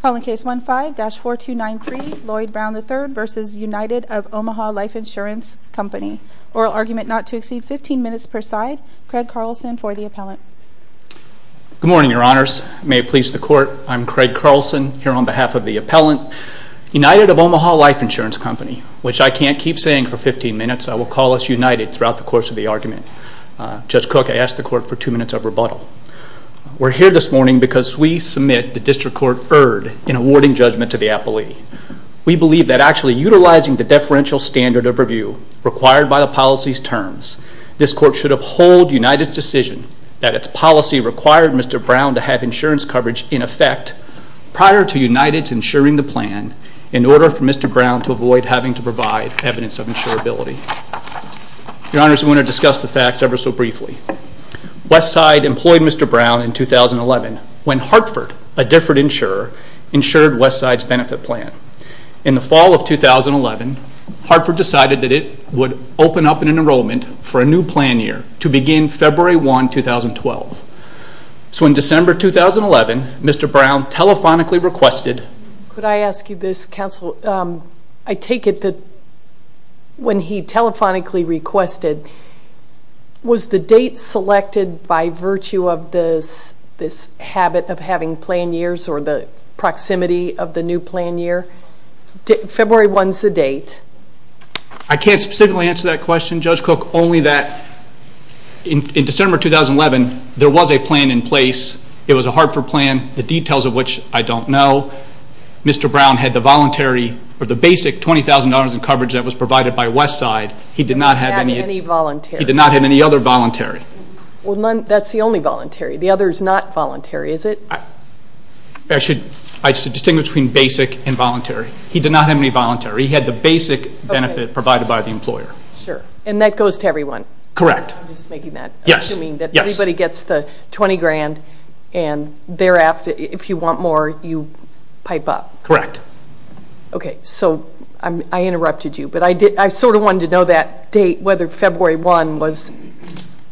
Call in case 15-4293, Lloyd Brown III v. United of Omaha Life Insurance Company. Oral argument not to exceed 15 minutes per side. Craig Carlson for the appellant. Good morning, Your Honors. May it please the Court. I'm Craig Carlson, here on behalf of the appellant. United of Omaha Life Insurance Company, which I can't keep saying for 15 minutes, I will call us united throughout the course of the argument. Judge Cook, I ask the Court for 2 minutes of rebuttal. We're here this morning because we submit the District Court erred in awarding judgment to the appellee. We believe that actually utilizing the deferential standard of review required by the policy's terms, this Court should uphold United's decision that its policy required Mr. Brown to have insurance coverage in effect prior to United's insuring the plan in order for Mr. Brown to avoid having to provide evidence of insurability. Your Honors, we want to discuss the facts ever so briefly. Westside employed Mr. Brown in 2011 when Hartford, a different insurer, insured Westside's benefit plan. In the fall of 2011, Hartford decided that it would open up an enrollment for a new plan year to begin February 1, 2012. So in December 2011, Mr. Brown telephonically requested... Could I ask you this, Counsel? I take it that when he telephonically requested, was the date selected by virtue of this habit of having plan years or the proximity of the new plan year? February 1 is the date. I can't specifically answer that question, Judge Cook, only that in December 2011, there was a plan in place. It was a Hartford plan, the details of which I don't know. Although Mr. Brown had the basic $20,000 in coverage that was provided by Westside, he did not have any other voluntary. Well, that's the only voluntary. The other is not voluntary, is it? I should distinguish between basic and voluntary. He did not have any voluntary. He had the basic benefit provided by the employer. And that goes to everyone? Correct. I'm just making that assuming that everybody gets the $20,000 and thereafter, if you want more, you pipe up. Correct. Okay. So I interrupted you, but I sort of wanted to know that date, whether February 1 was...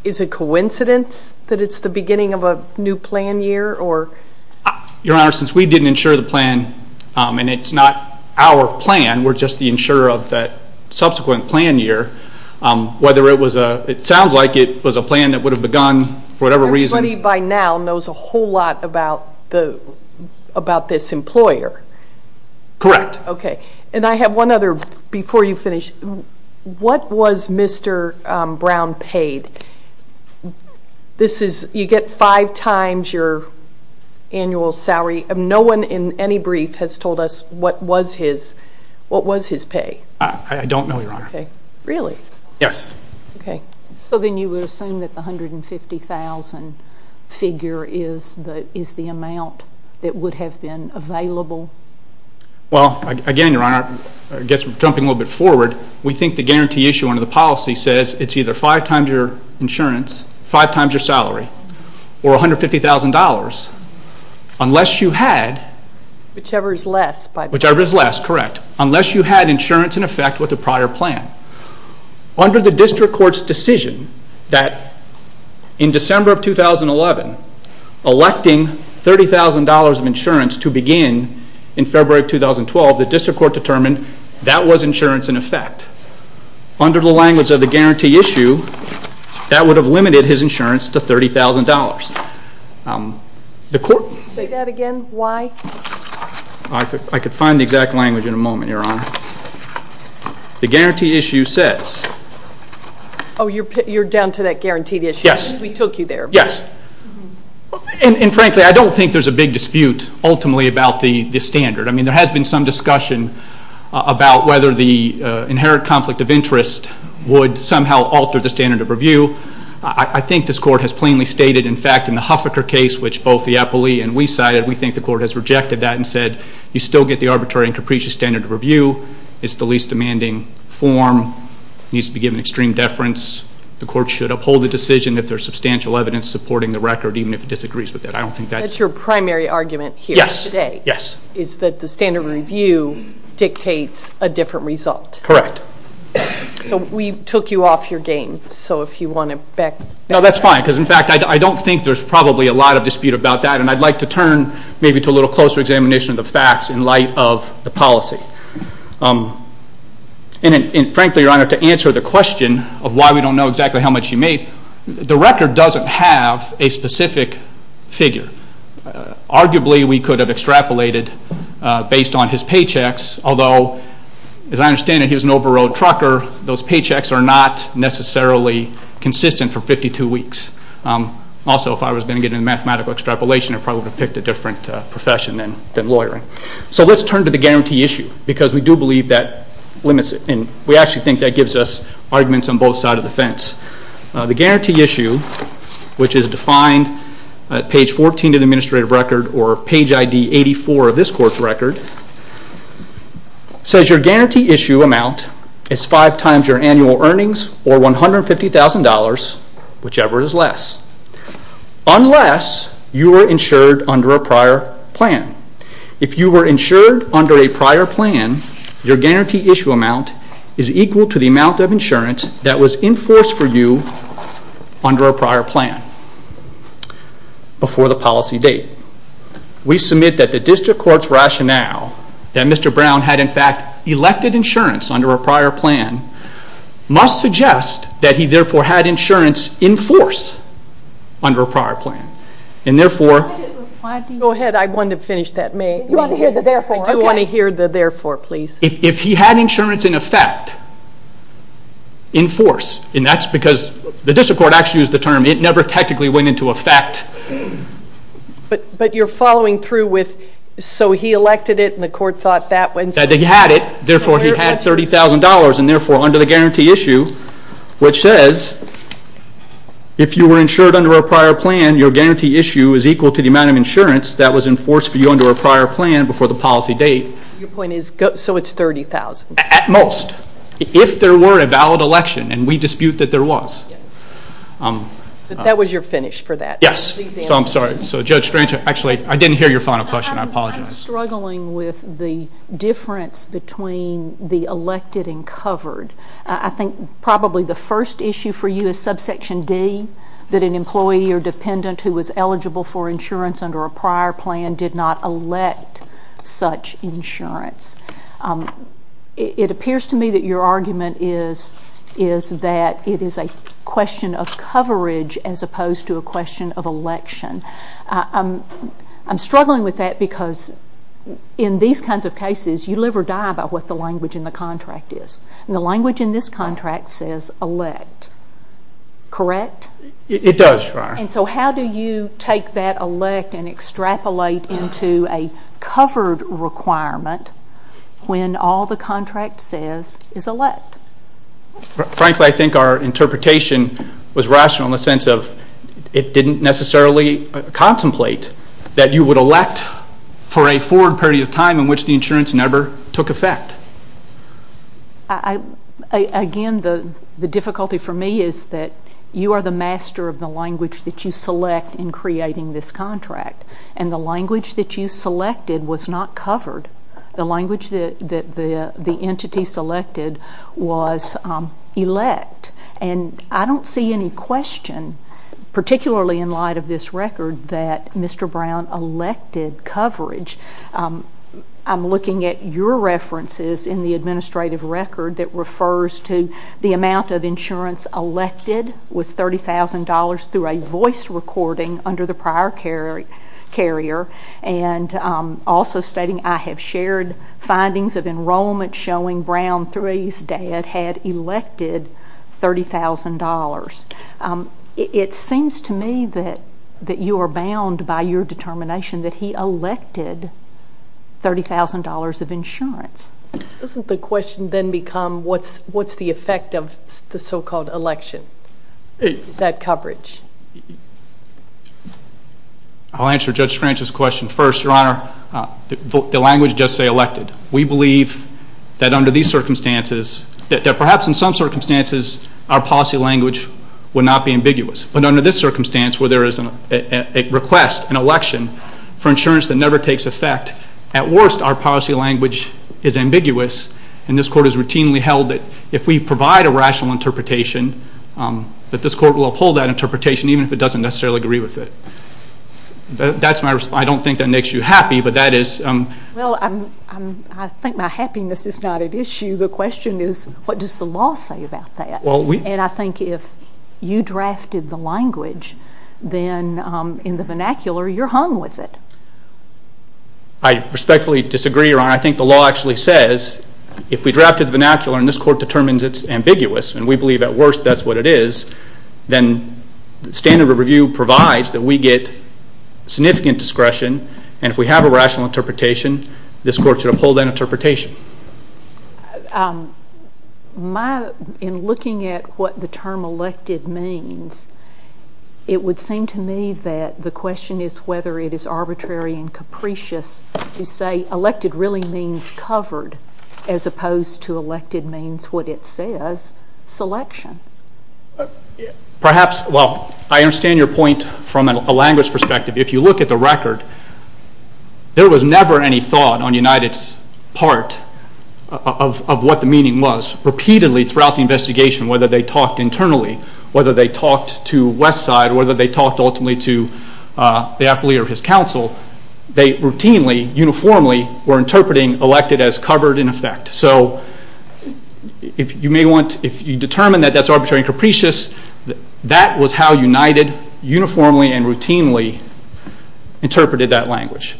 Is it coincidence that it's the beginning of a new plan year? Your Honor, since we didn't insure the plan and it's not our plan, we're just the insurer of that subsequent plan year, whether it was a... It sounds like it was a plan that would have begun for whatever reason. So everybody by now knows a whole lot about this employer? Correct. Okay. And I have one other before you finish. What was Mr. Brown paid? You get five times your annual salary. No one in any brief has told us what was his pay. I don't know, Your Honor. Really? Yes. Okay. So then you would assume that the $150,000 figure is the amount that would have been available? Well, again, Your Honor, I guess jumping a little bit forward, we think the guarantee issue under the policy says it's either five times your insurance, five times your salary, or $150,000 unless you had... Whichever is less by... Whichever is less, correct, unless you had insurance in effect with the prior plan. Under the district court's decision that in December of 2011, electing $30,000 of insurance to begin in February of 2012, the district court determined that was insurance in effect. Under the language of the guarantee issue, that would have limited his insurance to $30,000. Say that again, why? I could find the exact language in a moment, Your Honor. The guarantee issue says... Oh, you're down to that guaranteed issue? Yes. We took you there. Yes. And frankly, I don't think there's a big dispute ultimately about the standard. I mean, there has been some discussion about whether the inherent conflict of interest would somehow alter the standard of review. I think this court has plainly stated, in fact, in the Huffaker case, which both the appellee and we cited, we think the court has rejected that and said, you still get the arbitrary and capricious standard of review. It's the least demanding form. It needs to be given extreme deference. The court should uphold the decision if there's substantial evidence supporting the record, even if it disagrees with it. I don't think that's... That's your primary argument here today... Yes. ...is that the standard of review dictates a different result. Correct. So we took you off your game. So if you want to back up... No, that's fine because, in fact, I don't think there's probably a lot of dispute about that, and I'd like to turn maybe to a little closer examination of the facts in light of the policy. And frankly, Your Honor, to answer the question of why we don't know exactly how much he made, the record doesn't have a specific figure. Arguably, we could have extrapolated based on his paychecks, although, as I understand it, he was an overrode trucker. Those paychecks are not necessarily consistent for 52 weeks. Also, if I was going to get into mathematical extrapolation, I probably would have picked a different profession than lawyering. So let's turn to the guarantee issue because we do believe that limits it, and we actually think that gives us arguments on both sides of the fence. The guarantee issue, which is defined at page 14 of the administrative record or page ID 84 of this court's record, says your guarantee issue amount is five times your annual earnings or $150,000, whichever is less, unless you were insured under a prior plan. If you were insured under a prior plan, your guarantee issue amount is equal to the amount of insurance that was enforced for you under a prior plan before the policy date. We submit that the district court's rationale, that Mr. Brown had in fact elected insurance under a prior plan, must suggest that he therefore had insurance in force under a prior plan, and therefore... Go ahead. I want to finish that. You want to hear the therefore. I do want to hear the therefore, please. If he had insurance in effect, in force, and that's because the district court actually used the term, it never technically went into effect. But you're following through with, so he elected it and the court thought that... He had it, therefore he had $30,000, and therefore under the guarantee issue, which says if you were insured under a prior plan, your guarantee issue is equal to the amount of insurance that was enforced for you under a prior plan before the policy date. Your point is, so it's $30,000. At most. If there were a valid election, and we dispute that there was. That was your finish for that. Yes. So I'm sorry. So Judge Strang... Actually, I didn't hear your final question. I apologize. I'm struggling with the difference between the elected and covered. I think probably the first issue for you is subsection D, that an employee or dependent who was eligible for insurance under a prior plan did not elect such insurance. It appears to me that your argument is that it is a question of coverage as opposed to a question of election. I'm struggling with that because in these kinds of cases, you live or die by what the language in the contract is. The language in this contract says elect. Correct? It does. And so how do you take that elect and extrapolate into a covered requirement when all the contract says is elect? Frankly, I think our interpretation was rational in the sense of it didn't necessarily contemplate that you would elect for a forward period of time in which the insurance never took effect. Again, the difficulty for me is that you are the master of the language that you select in creating this contract, and the language that you selected was not covered. The language that the entity selected was elect. I don't see any question, particularly in light of this record, that Mr. Brown elected coverage. I'm looking at your references in the administrative record that refers to the amount of insurance elected was $30,000 through a voice recording under the prior carrier, and also stating, I have shared findings of enrollment showing Brown III's dad had elected $30,000. It seems to me that you are bound by your determination that he elected $30,000 of insurance. Doesn't the question then become what's the effect of the so-called election? Is that coverage? I'll answer Judge Scranton's question first, Your Honor. The language does say elected. We believe that under these circumstances, that perhaps in some circumstances our policy language would not be ambiguous, but under this circumstance where there is a request, an election, for insurance that never takes effect, at worst our policy language is ambiguous, and this Court has routinely held that if we provide a rational interpretation, that this Court will uphold that interpretation even if it doesn't necessarily agree with it. That's my response. I don't think that makes you happy, but that is... Well, I think my happiness is not at issue. The question is what does the law say about that? And I think if you drafted the language, then in the vernacular you're hung with it. I respectfully disagree, Your Honor. I think the law actually says if we drafted the vernacular and this Court determines it's ambiguous and we believe at worst that's what it is, then standard of review provides that we get significant discretion, and if we have a rational interpretation, this Court should uphold that interpretation. In looking at what the term elected means, it would seem to me that the question is whether it is arbitrary and capricious to say elected really means covered as opposed to elected means what it says, selection. Perhaps, well, I understand your point from a language perspective. If you look at the record, there was never any thought on United's part of what the meaning was. Repeatedly throughout the investigation, whether they talked internally, whether they talked to Westside, whether they talked ultimately to the appellee or his counsel, they routinely, uniformly were interpreting elected as covered in effect. So if you determine that that's arbitrary and capricious, that was how United uniformly and routinely interpreted that language.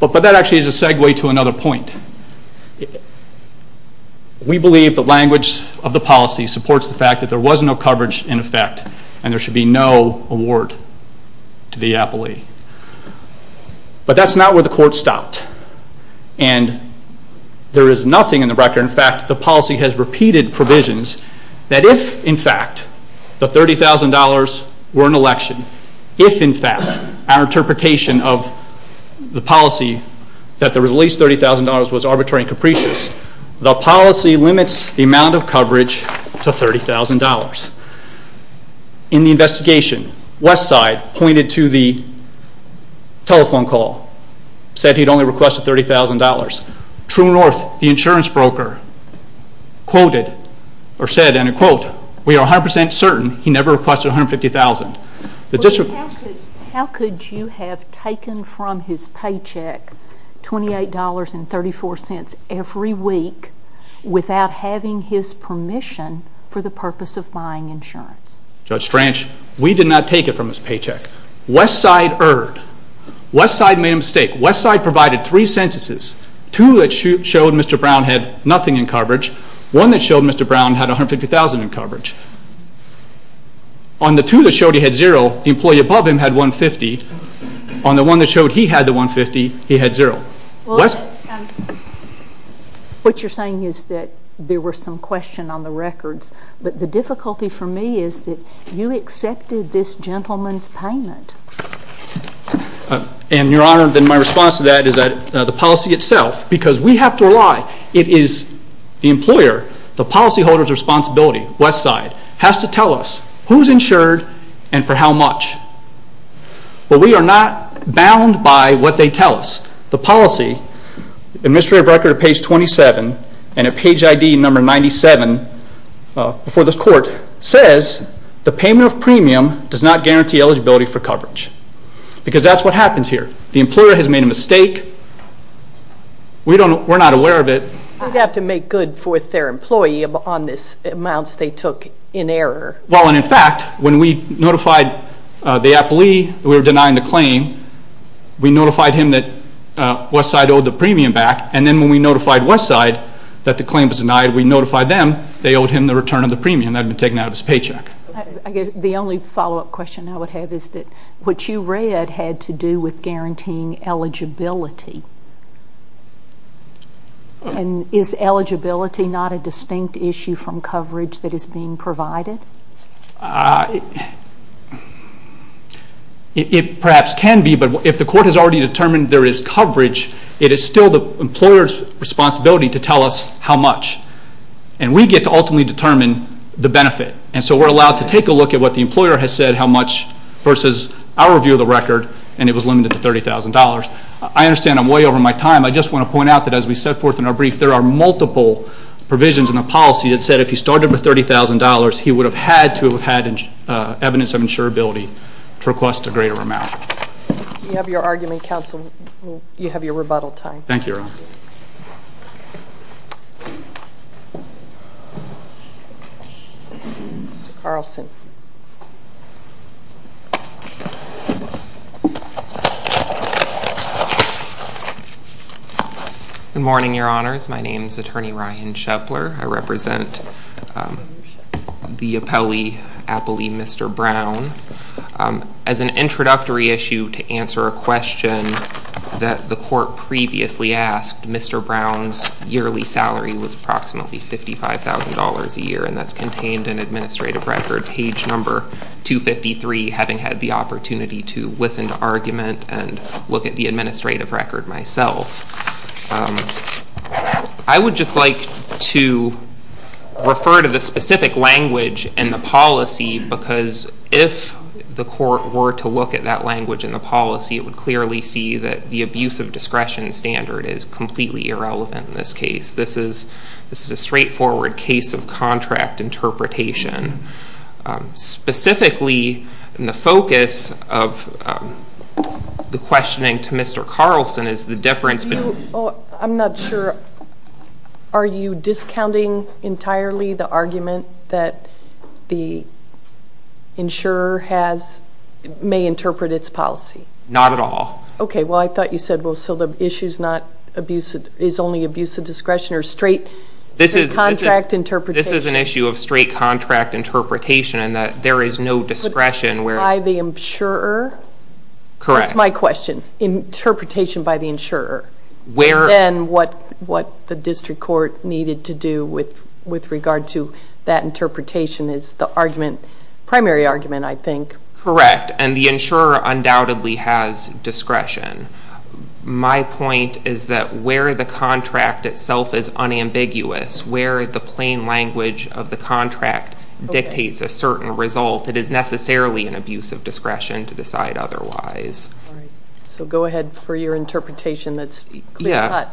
But that actually is a segue to another point. We believe the language of the policy supports the fact that there was no coverage in effect and there should be no award to the appellee. But that's not where the Court stopped. And there is nothing in the record, in fact, the policy has repeated provisions that if in fact the $30,000 were an election, if in fact our interpretation of the policy that there was at least $30,000 was arbitrary and capricious, the policy limits the amount of coverage to $30,000. In the investigation, Westside pointed to the telephone call, said he'd only requested $30,000. True North, the insurance broker, quoted or said in a quote, we are 100% certain he never requested $150,000. How could you have taken from his paycheck $28.34 every week without having his permission for the purpose of buying insurance? Judge Franch, we did not take it from his paycheck. Westside erred. Westside made a mistake. Westside provided three censuses, two that showed Mr. Brown had nothing in coverage, one that showed Mr. Brown had $150,000 in coverage. On the two that showed he had zero, the employee above him had $150,000. On the one that showed he had the $150,000, he had zero. What you're saying is that there were some questions on the records, but the difficulty for me is that you accepted this gentleman's payment. Your Honor, my response to that is that the policy itself, because we have to rely, it is the employer, the policyholder's responsibility, Westside, has to tell us who's insured and for how much. But we are not bound by what they tell us. The policy, in the mystery of record at page 27 and at page ID number 97, before this court, says the payment of premium does not guarantee eligibility for coverage because that's what happens here. The employer has made a mistake. We're not aware of it. They'd have to make good for their employee on the amounts they took in error. Well, and in fact, when we notified the appellee that we were denying the claim, we notified him that Westside owed the premium back, and then when we notified Westside that the claim was denied, we notified them. They owed him the return of the premium that had been taken out of his paycheck. The only follow-up question I would have is that what you read had to do with guaranteeing eligibility. And is eligibility not a distinct issue from coverage that is being provided? It perhaps can be, but if the court has already determined there is coverage, it is still the employer's responsibility to tell us how much. And we get to ultimately determine the benefit. And so we're allowed to take a look at what the employer has said, how much versus our view of the record, and it was limited to $30,000. I understand I'm way over my time. I just want to point out that as we set forth in our brief, there are multiple provisions in the policy that said if he started with $30,000, he would have had to have had evidence of insurability to request a greater amount. You have your argument, counsel. You have your rebuttal time. Thank you, Your Honor. Mr. Carlson. Good morning, Your Honors. My name is Attorney Ryan Schepler. I represent the appellee, Mr. Brown. As an introductory issue to answer a question that the court previously asked, Mr. Brown's yearly salary was approximately $55,000 a year, and that's contained in administrative record page number 253, having had the opportunity to listen to argument and look at the administrative record myself. I would just like to refer to the specific language in the policy because if the court were to look at that language in the policy, it would clearly see that the abuse of discretion standard is completely irrelevant in this case. This is a straightforward case of contract interpretation. Specifically, the focus of the questioning to Mr. Carlson I'm not sure. Are you discounting entirely the argument that the insurer may interpret its policy? Not at all. Okay. Well, I thought you said, well, so the issue is only abuse of discretion or straight contract interpretation? This is an issue of straight contract interpretation in that there is no discretion. By the insurer? Correct. That's my question. Interpretation by the insurer. Where? And what the district court needed to do with regard to that interpretation is the argument, primary argument, I think. Correct. And the insurer undoubtedly has discretion. My point is that where the contract itself is unambiguous, where the plain language of the contract dictates a certain result, it is necessarily an abuse of discretion to decide otherwise. All right. So go ahead for your interpretation that's clear-cut. Yeah.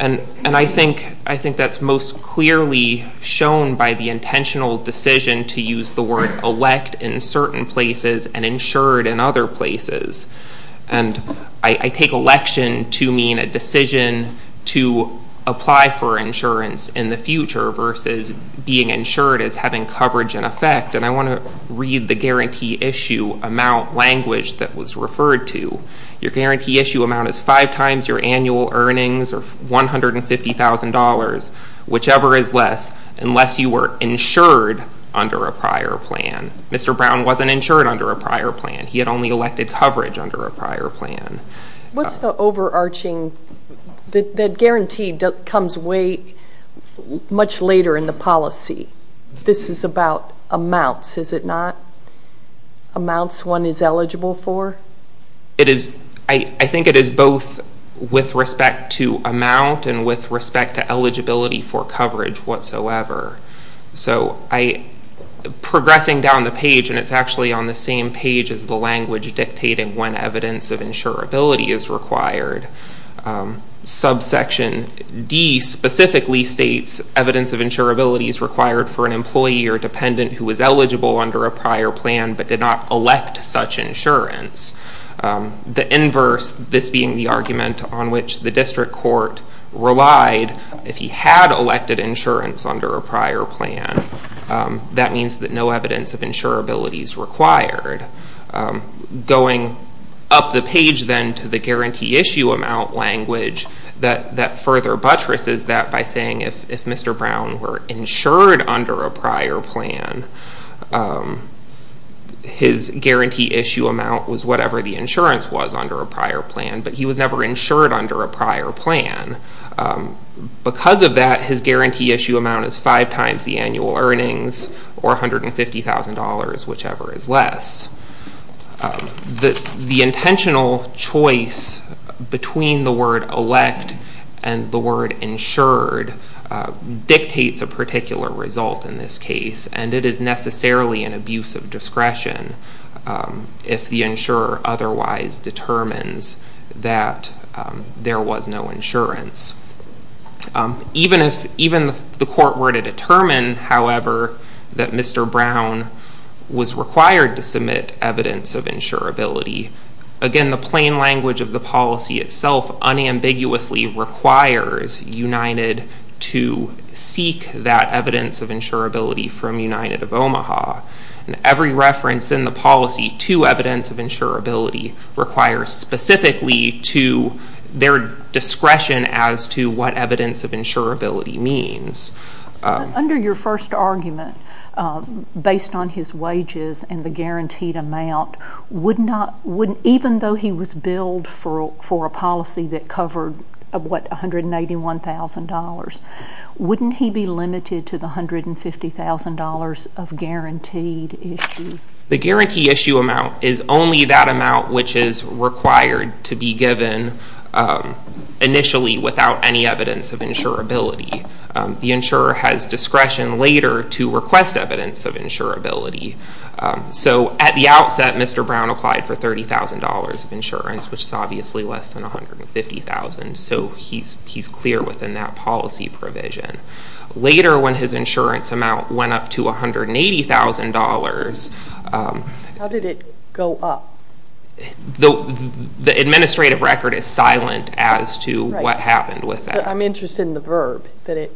And I think that's most clearly shown by the intentional decision to use the word elect in certain places and insured in other places. And I take election to mean a decision to apply for insurance in the future versus being insured as having coverage in effect. And I want to read the guarantee issue amount language that was referred to. Your guarantee issue amount is five times your annual earnings or $150,000, whichever is less, unless you were insured under a prior plan. Mr. Brown wasn't insured under a prior plan. He had only elected coverage under a prior plan. What's the overarching? The guarantee comes way much later in the policy. This is about amounts, is it not? Amounts one is eligible for? It is. I think it is both with respect to amount and with respect to eligibility for coverage whatsoever. So progressing down the page, and it's actually on the same page as the language dictating when evidence of insurability is required, subsection D specifically states evidence of insurability is required for an employee or dependent who is eligible under a prior plan but did not elect such insurance. The inverse, this being the argument on which the district court relied, if he had elected insurance under a prior plan, going up the page then to the guarantee issue amount language, that further buttresses that by saying if Mr. Brown were insured under a prior plan, his guarantee issue amount was whatever the insurance was under a prior plan, but he was never insured under a prior plan. Because of that, his guarantee issue amount is five times the annual earnings or $150,000, whichever is less. The intentional choice between the word elect and the word insured dictates a particular result in this case, and it is necessarily an abuse of discretion if the insurer otherwise determines that there was no insurance. Even if the court were to determine, however, that Mr. Brown was required to submit evidence of insurability, again, the plain language of the policy itself unambiguously requires United to seek that evidence of insurability from United of Omaha. Every reference in the policy to evidence of insurability requires specifically to their discretion as to what evidence of insurability means. Under your first argument, based on his wages and the guaranteed amount, even though he was billed for a policy that covered, what, $181,000, wouldn't he be limited to the $150,000 of guaranteed issue? The guaranteed issue amount is only that amount which is required to be given initially without any evidence of insurability. The insurer has discretion later to request evidence of insurability. So at the outset, Mr. Brown applied for $30,000 of insurance, which is obviously less than $150,000, so he's clear within that policy provision. Later, when his insurance amount went up to $180,000. How did it go up? The administrative record is silent as to what happened with that. I'm interested in the verb, that it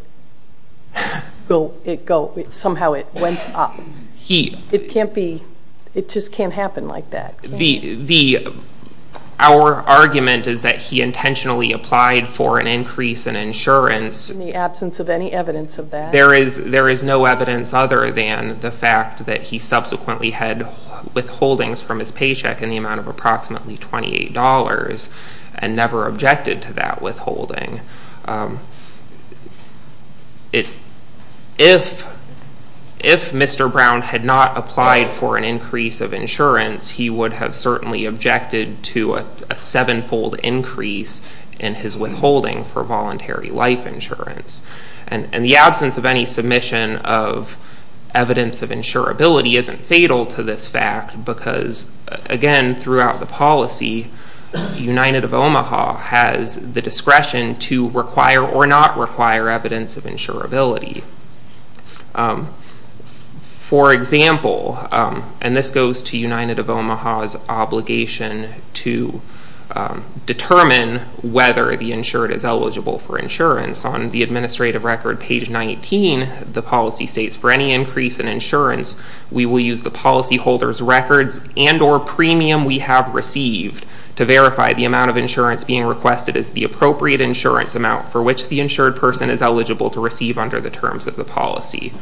somehow went up. It just can't happen like that. Our argument is that he intentionally applied for an increase in insurance. In the absence of any evidence of that? There is no evidence other than the fact that he subsequently had withholdings from his paycheck in the amount of approximately $28 and never objected to that withholding. If Mr. Brown had not applied for an increase of insurance, he would have certainly objected to a seven-fold increase in his withholding for voluntary life insurance. The absence of any submission of evidence of insurability isn't fatal to this fact because, again, throughout the policy, United of Omaha has the discretion to require or not require evidence of insurability. For example, and this goes to United of Omaha's obligation to determine whether the insured is eligible for insurance. On the administrative record, page 19, the policy states, for any increase in insurance, we will use the policyholder's records and or premium we have received to verify the amount of insurance being requested is the appropriate insurance amount for which the insured person is eligible to receive under the terms of the policy.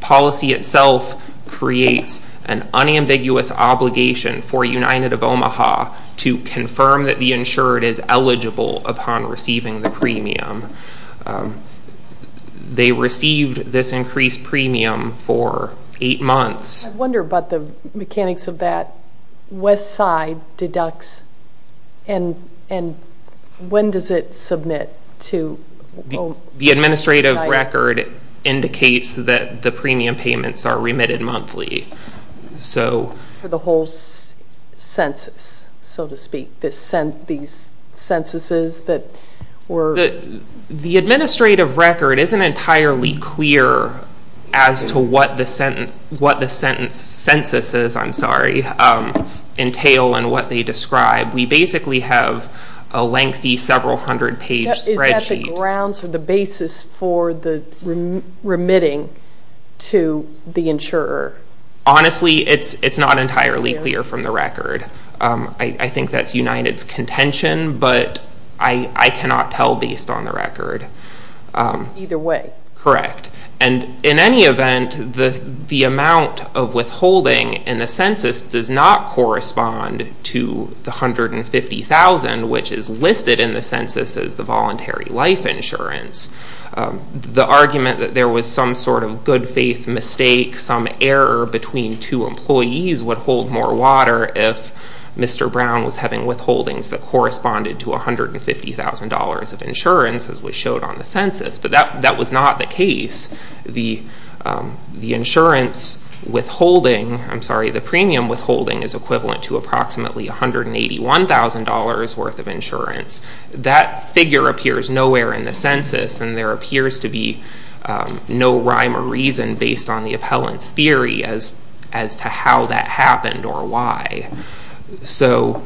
Policy itself creates an unambiguous obligation for United of Omaha to confirm that the insured is eligible upon receiving the premium. They received this increased premium for eight months. I wonder about the mechanics of that Westside deducts and when does it submit to Omaha? The administrative record indicates that the premium payments are remitted monthly. For the whole census, so to speak, these censuses that were? The administrative record isn't entirely clear as to what the censuses, I'm sorry, entail and what they describe. We basically have a lengthy several hundred page spreadsheet. What are the grounds or the basis for the remitting to the insurer? Honestly, it's not entirely clear from the record. I think that's United's contention, but I cannot tell based on the record. Either way. Correct. And in any event, the amount of withholding in the census does not correspond to the 150,000, which is listed in the census as the voluntary life insurance. The argument that there was some sort of good faith mistake, some error between two employees would hold more water if Mr. Brown was having withholdings that corresponded to $150,000 of insurance, as we showed on the census, but that was not the case. The insurance withholding, I'm sorry, the premium withholding, is equivalent to approximately $181,000 worth of insurance. That figure appears nowhere in the census, and there appears to be no rhyme or reason based on the appellant's theory as to how that happened or why. So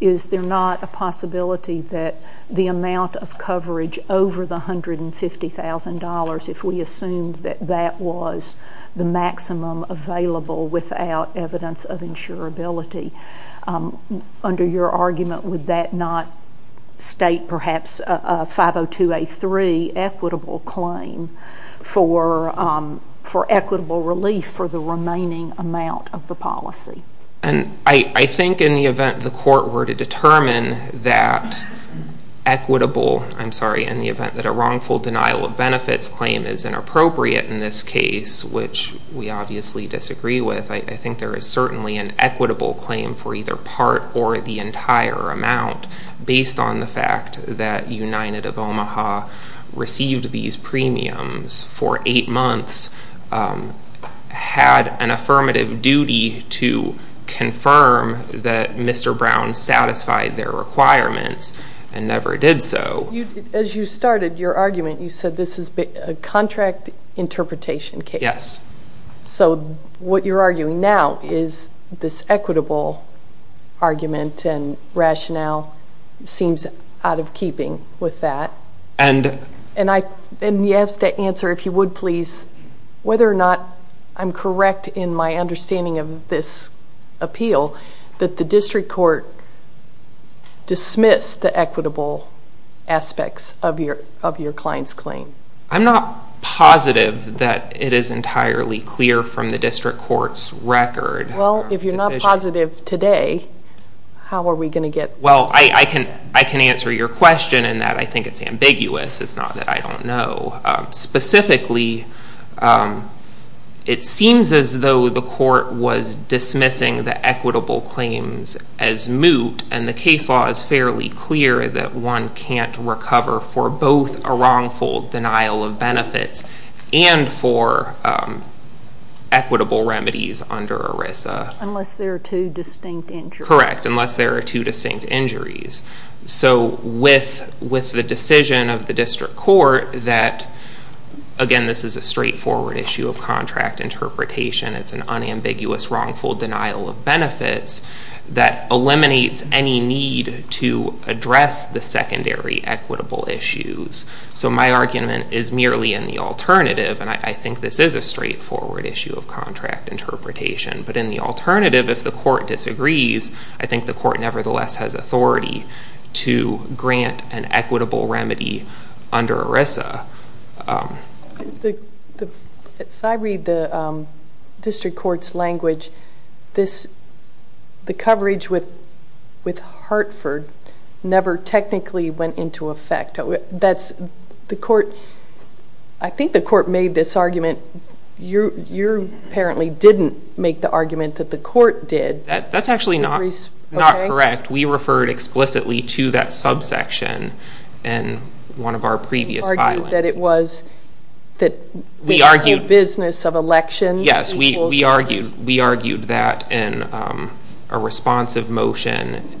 is there not a possibility that the amount of coverage over the $150,000, if we assumed that that was the maximum available without evidence of insurability, under your argument would that not state perhaps a 502A3 equitable claim for equitable relief for the remaining amount of the policy? I think in the event the court were to determine that equitable, I'm sorry, in the event that a wrongful denial of benefits claim is inappropriate in this case, which we obviously disagree with, I think there is certainly an equitable claim for either part or the entire amount based on the fact that United of Omaha received these premiums for eight months, had an affirmative duty to confirm that Mr. Brown satisfied their requirements and never did so. As you started your argument, you said this is a contract interpretation case. Yes. So what you're arguing now is this equitable argument and rationale seems out of keeping with that. And you have to answer, if you would please, whether or not I'm correct in my understanding of this appeal that the district court dismissed the equitable aspects of your client's claim. I'm not positive that it is entirely clear from the district court's record. Well, if you're not positive today, how are we going to get this? Well, I can answer your question in that I think it's ambiguous. It's not that I don't know. Specifically, it seems as though the court was dismissing the equitable claims as moot, and the case law is fairly clear that one can't recover for both a wrongful denial of benefits and for equitable remedies under ERISA. Unless there are two distinct injuries. Correct, unless there are two distinct injuries. So with the decision of the district court that, again, this is a straightforward issue of contract interpretation, it's an unambiguous wrongful denial of benefits that eliminates any need to address the secondary equitable issues. So my argument is merely in the alternative, and I think this is a straightforward issue of contract interpretation. But in the alternative, if the court disagrees, I think the court nevertheless has authority to grant an equitable remedy under ERISA. As I read the district court's language, the coverage with Hartford never technically went into effect. I think the court made this argument. You apparently didn't make the argument that the court did. That's actually not correct. We referred explicitly to that subsection in one of our previous filings. You argued that it was that we are in the business of election. Yes, we argued that in a responsive motion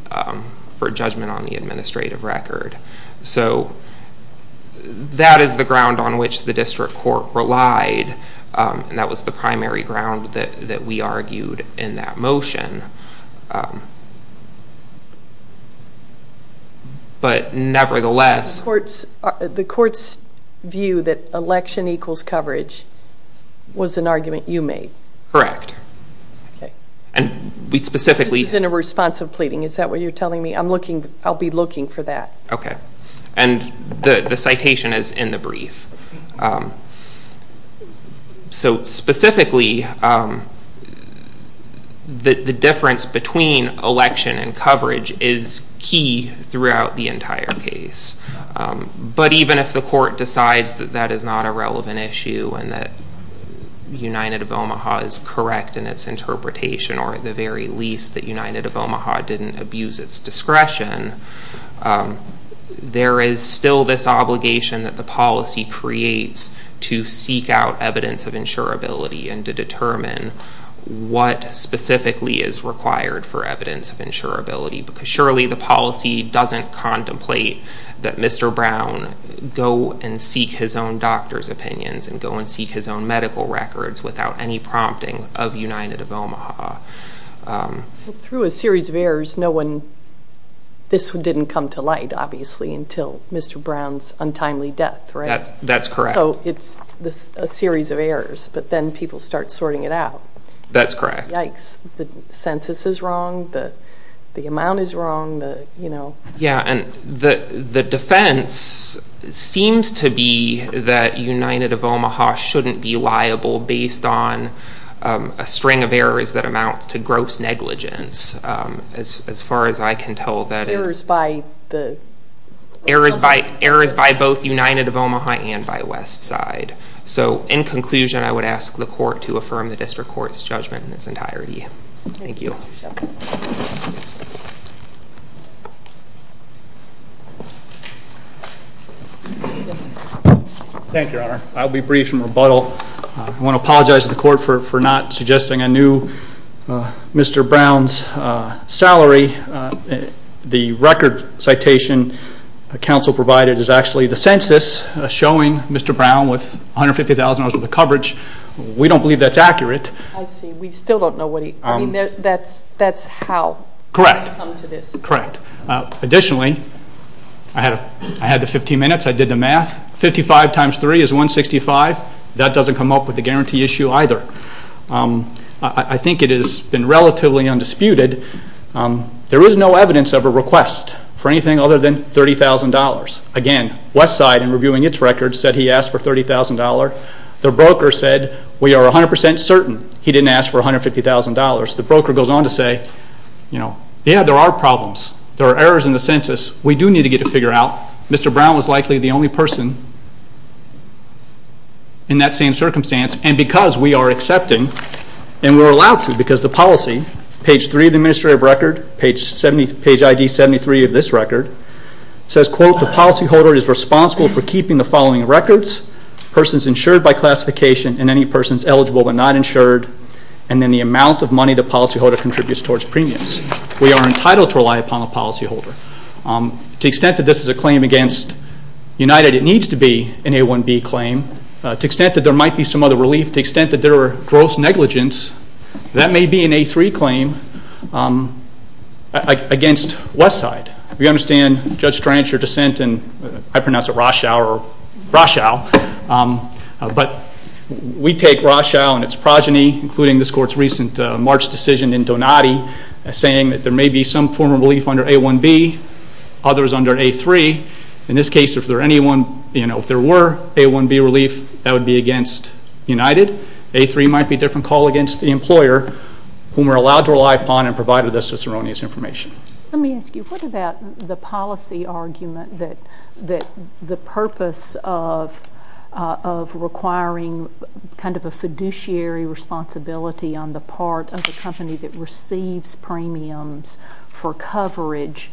for judgment on the administrative record. So that is the ground on which the district court relied, and that was the primary ground that we argued in that motion. But nevertheless— The court's view that election equals coverage was an argument you made. Correct. And we specifically— This is in a responsive pleading. Is that what you're telling me? I'll be looking for that. Okay. And the citation is in the brief. So specifically, the difference between election and coverage is key throughout the entire case. But even if the court decides that that is not a relevant issue and that United of Omaha is correct in its interpretation, or at the very least that United of Omaha didn't abuse its discretion, there is still this obligation that the policy creates to seek out evidence of insurability and to determine what specifically is required for evidence of insurability, because surely the policy doesn't contemplate that Mr. Brown go and seek his own doctor's opinions and go and seek his own medical records without any prompting of United of Omaha. Through a series of errors, no one— This didn't come to light, obviously, until Mr. Brown's untimely death, right? That's correct. So it's a series of errors, but then people start sorting it out. That's correct. Yikes. The census is wrong. The amount is wrong. Yeah, and the defense seems to be that United of Omaha shouldn't be liable based on a string of errors that amounts to gross negligence, as far as I can tell. Errors by the— Errors by both United of Omaha and by Westside. So in conclusion, I would ask the court to affirm the district court's judgment in its entirety. Thank you. Yes, sir. Thank you, Your Honor. I'll be brief in rebuttal. I want to apologize to the court for not suggesting a new Mr. Brown's salary. The record citation counsel provided is actually the census showing Mr. Brown with $150,000 worth of coverage. We don't believe that's accurate. I see. We still don't know what he— I mean, that's how— Correct. Correct. Additionally, I had the 15 minutes. I did the math. 55 times 3 is 165. That doesn't come up with the guarantee issue either. I think it has been relatively undisputed. There is no evidence of a request for anything other than $30,000. Again, Westside, in reviewing its record, said he asked for $30,000. The broker said, we are 100% certain he didn't ask for $150,000. The broker goes on to say, you know, yeah, there are problems. There are errors in the census. We do need to get a figure out. Mr. Brown was likely the only person in that same circumstance, and because we are accepting, and we're allowed to because the policy, page 3 of the administrative record, page ID 73 of this record, says, quote, the policyholder is responsible for keeping the following records, persons insured by classification and any persons eligible but not insured, and then the amount of money the policyholder contributes towards premiums. We are entitled to rely upon the policyholder. To the extent that this is a claim against United, it needs to be an A1B claim. To the extent that there might be some other relief, to the extent that there are gross negligence, that may be an A3 claim against Westside. We understand Judge Strancher's dissent, and I pronounce it Roshow, but we take Roshow and its progeny, including this court's recent March decision in Donati, as saying that there may be some form of relief under A1B, others under A3. In this case, if there were A1B relief, that would be against United. A3 might be a different call against the employer whom we're allowed to rely upon and provided us with erroneous information. Let me ask you, what about the policy argument that the purpose of requiring kind of a fiduciary responsibility on the part of the company that receives premiums for coverage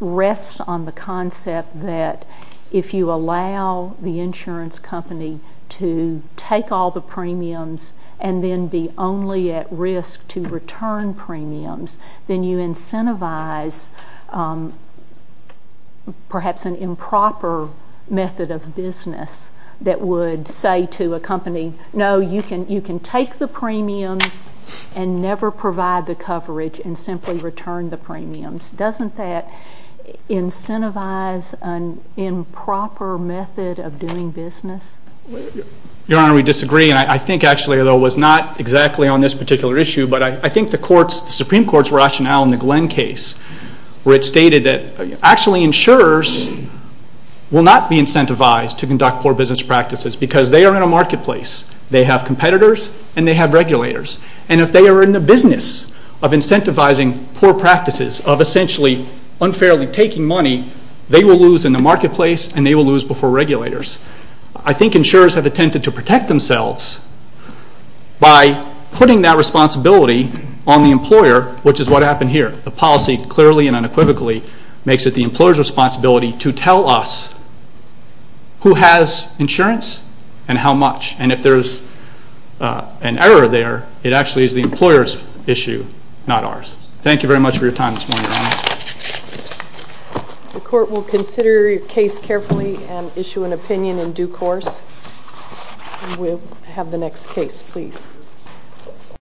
rests on the concept that if you allow the insurance company to take all the premiums and then be only at risk to return premiums, then you incentivize perhaps an improper method of business that would say to a company, no, you can take the premiums and never provide the coverage and simply return the premiums. Doesn't that incentivize an improper method of doing business? Your Honor, we disagree, and I think actually, although it was not exactly on this particular issue, but I think the Supreme Court's rationale in the Glenn case where it stated that actually insurers will not be incentivized to conduct poor business practices because they are in a marketplace. They have competitors and they have regulators. And if they are in the business of incentivizing poor practices, of essentially unfairly taking money, they will lose in the marketplace and they will lose before regulators. I think insurers have attempted to protect themselves by putting that responsibility on the employer, which is what happened here. The policy clearly and unequivocally makes it the employer's responsibility to tell us who has insurance and how much. And if there is an error there, it actually is the employer's issue, not ours. Thank you very much for your time this morning, Your Honor. The Court will consider your case carefully and issue an opinion in due course. We'll have the next case, please.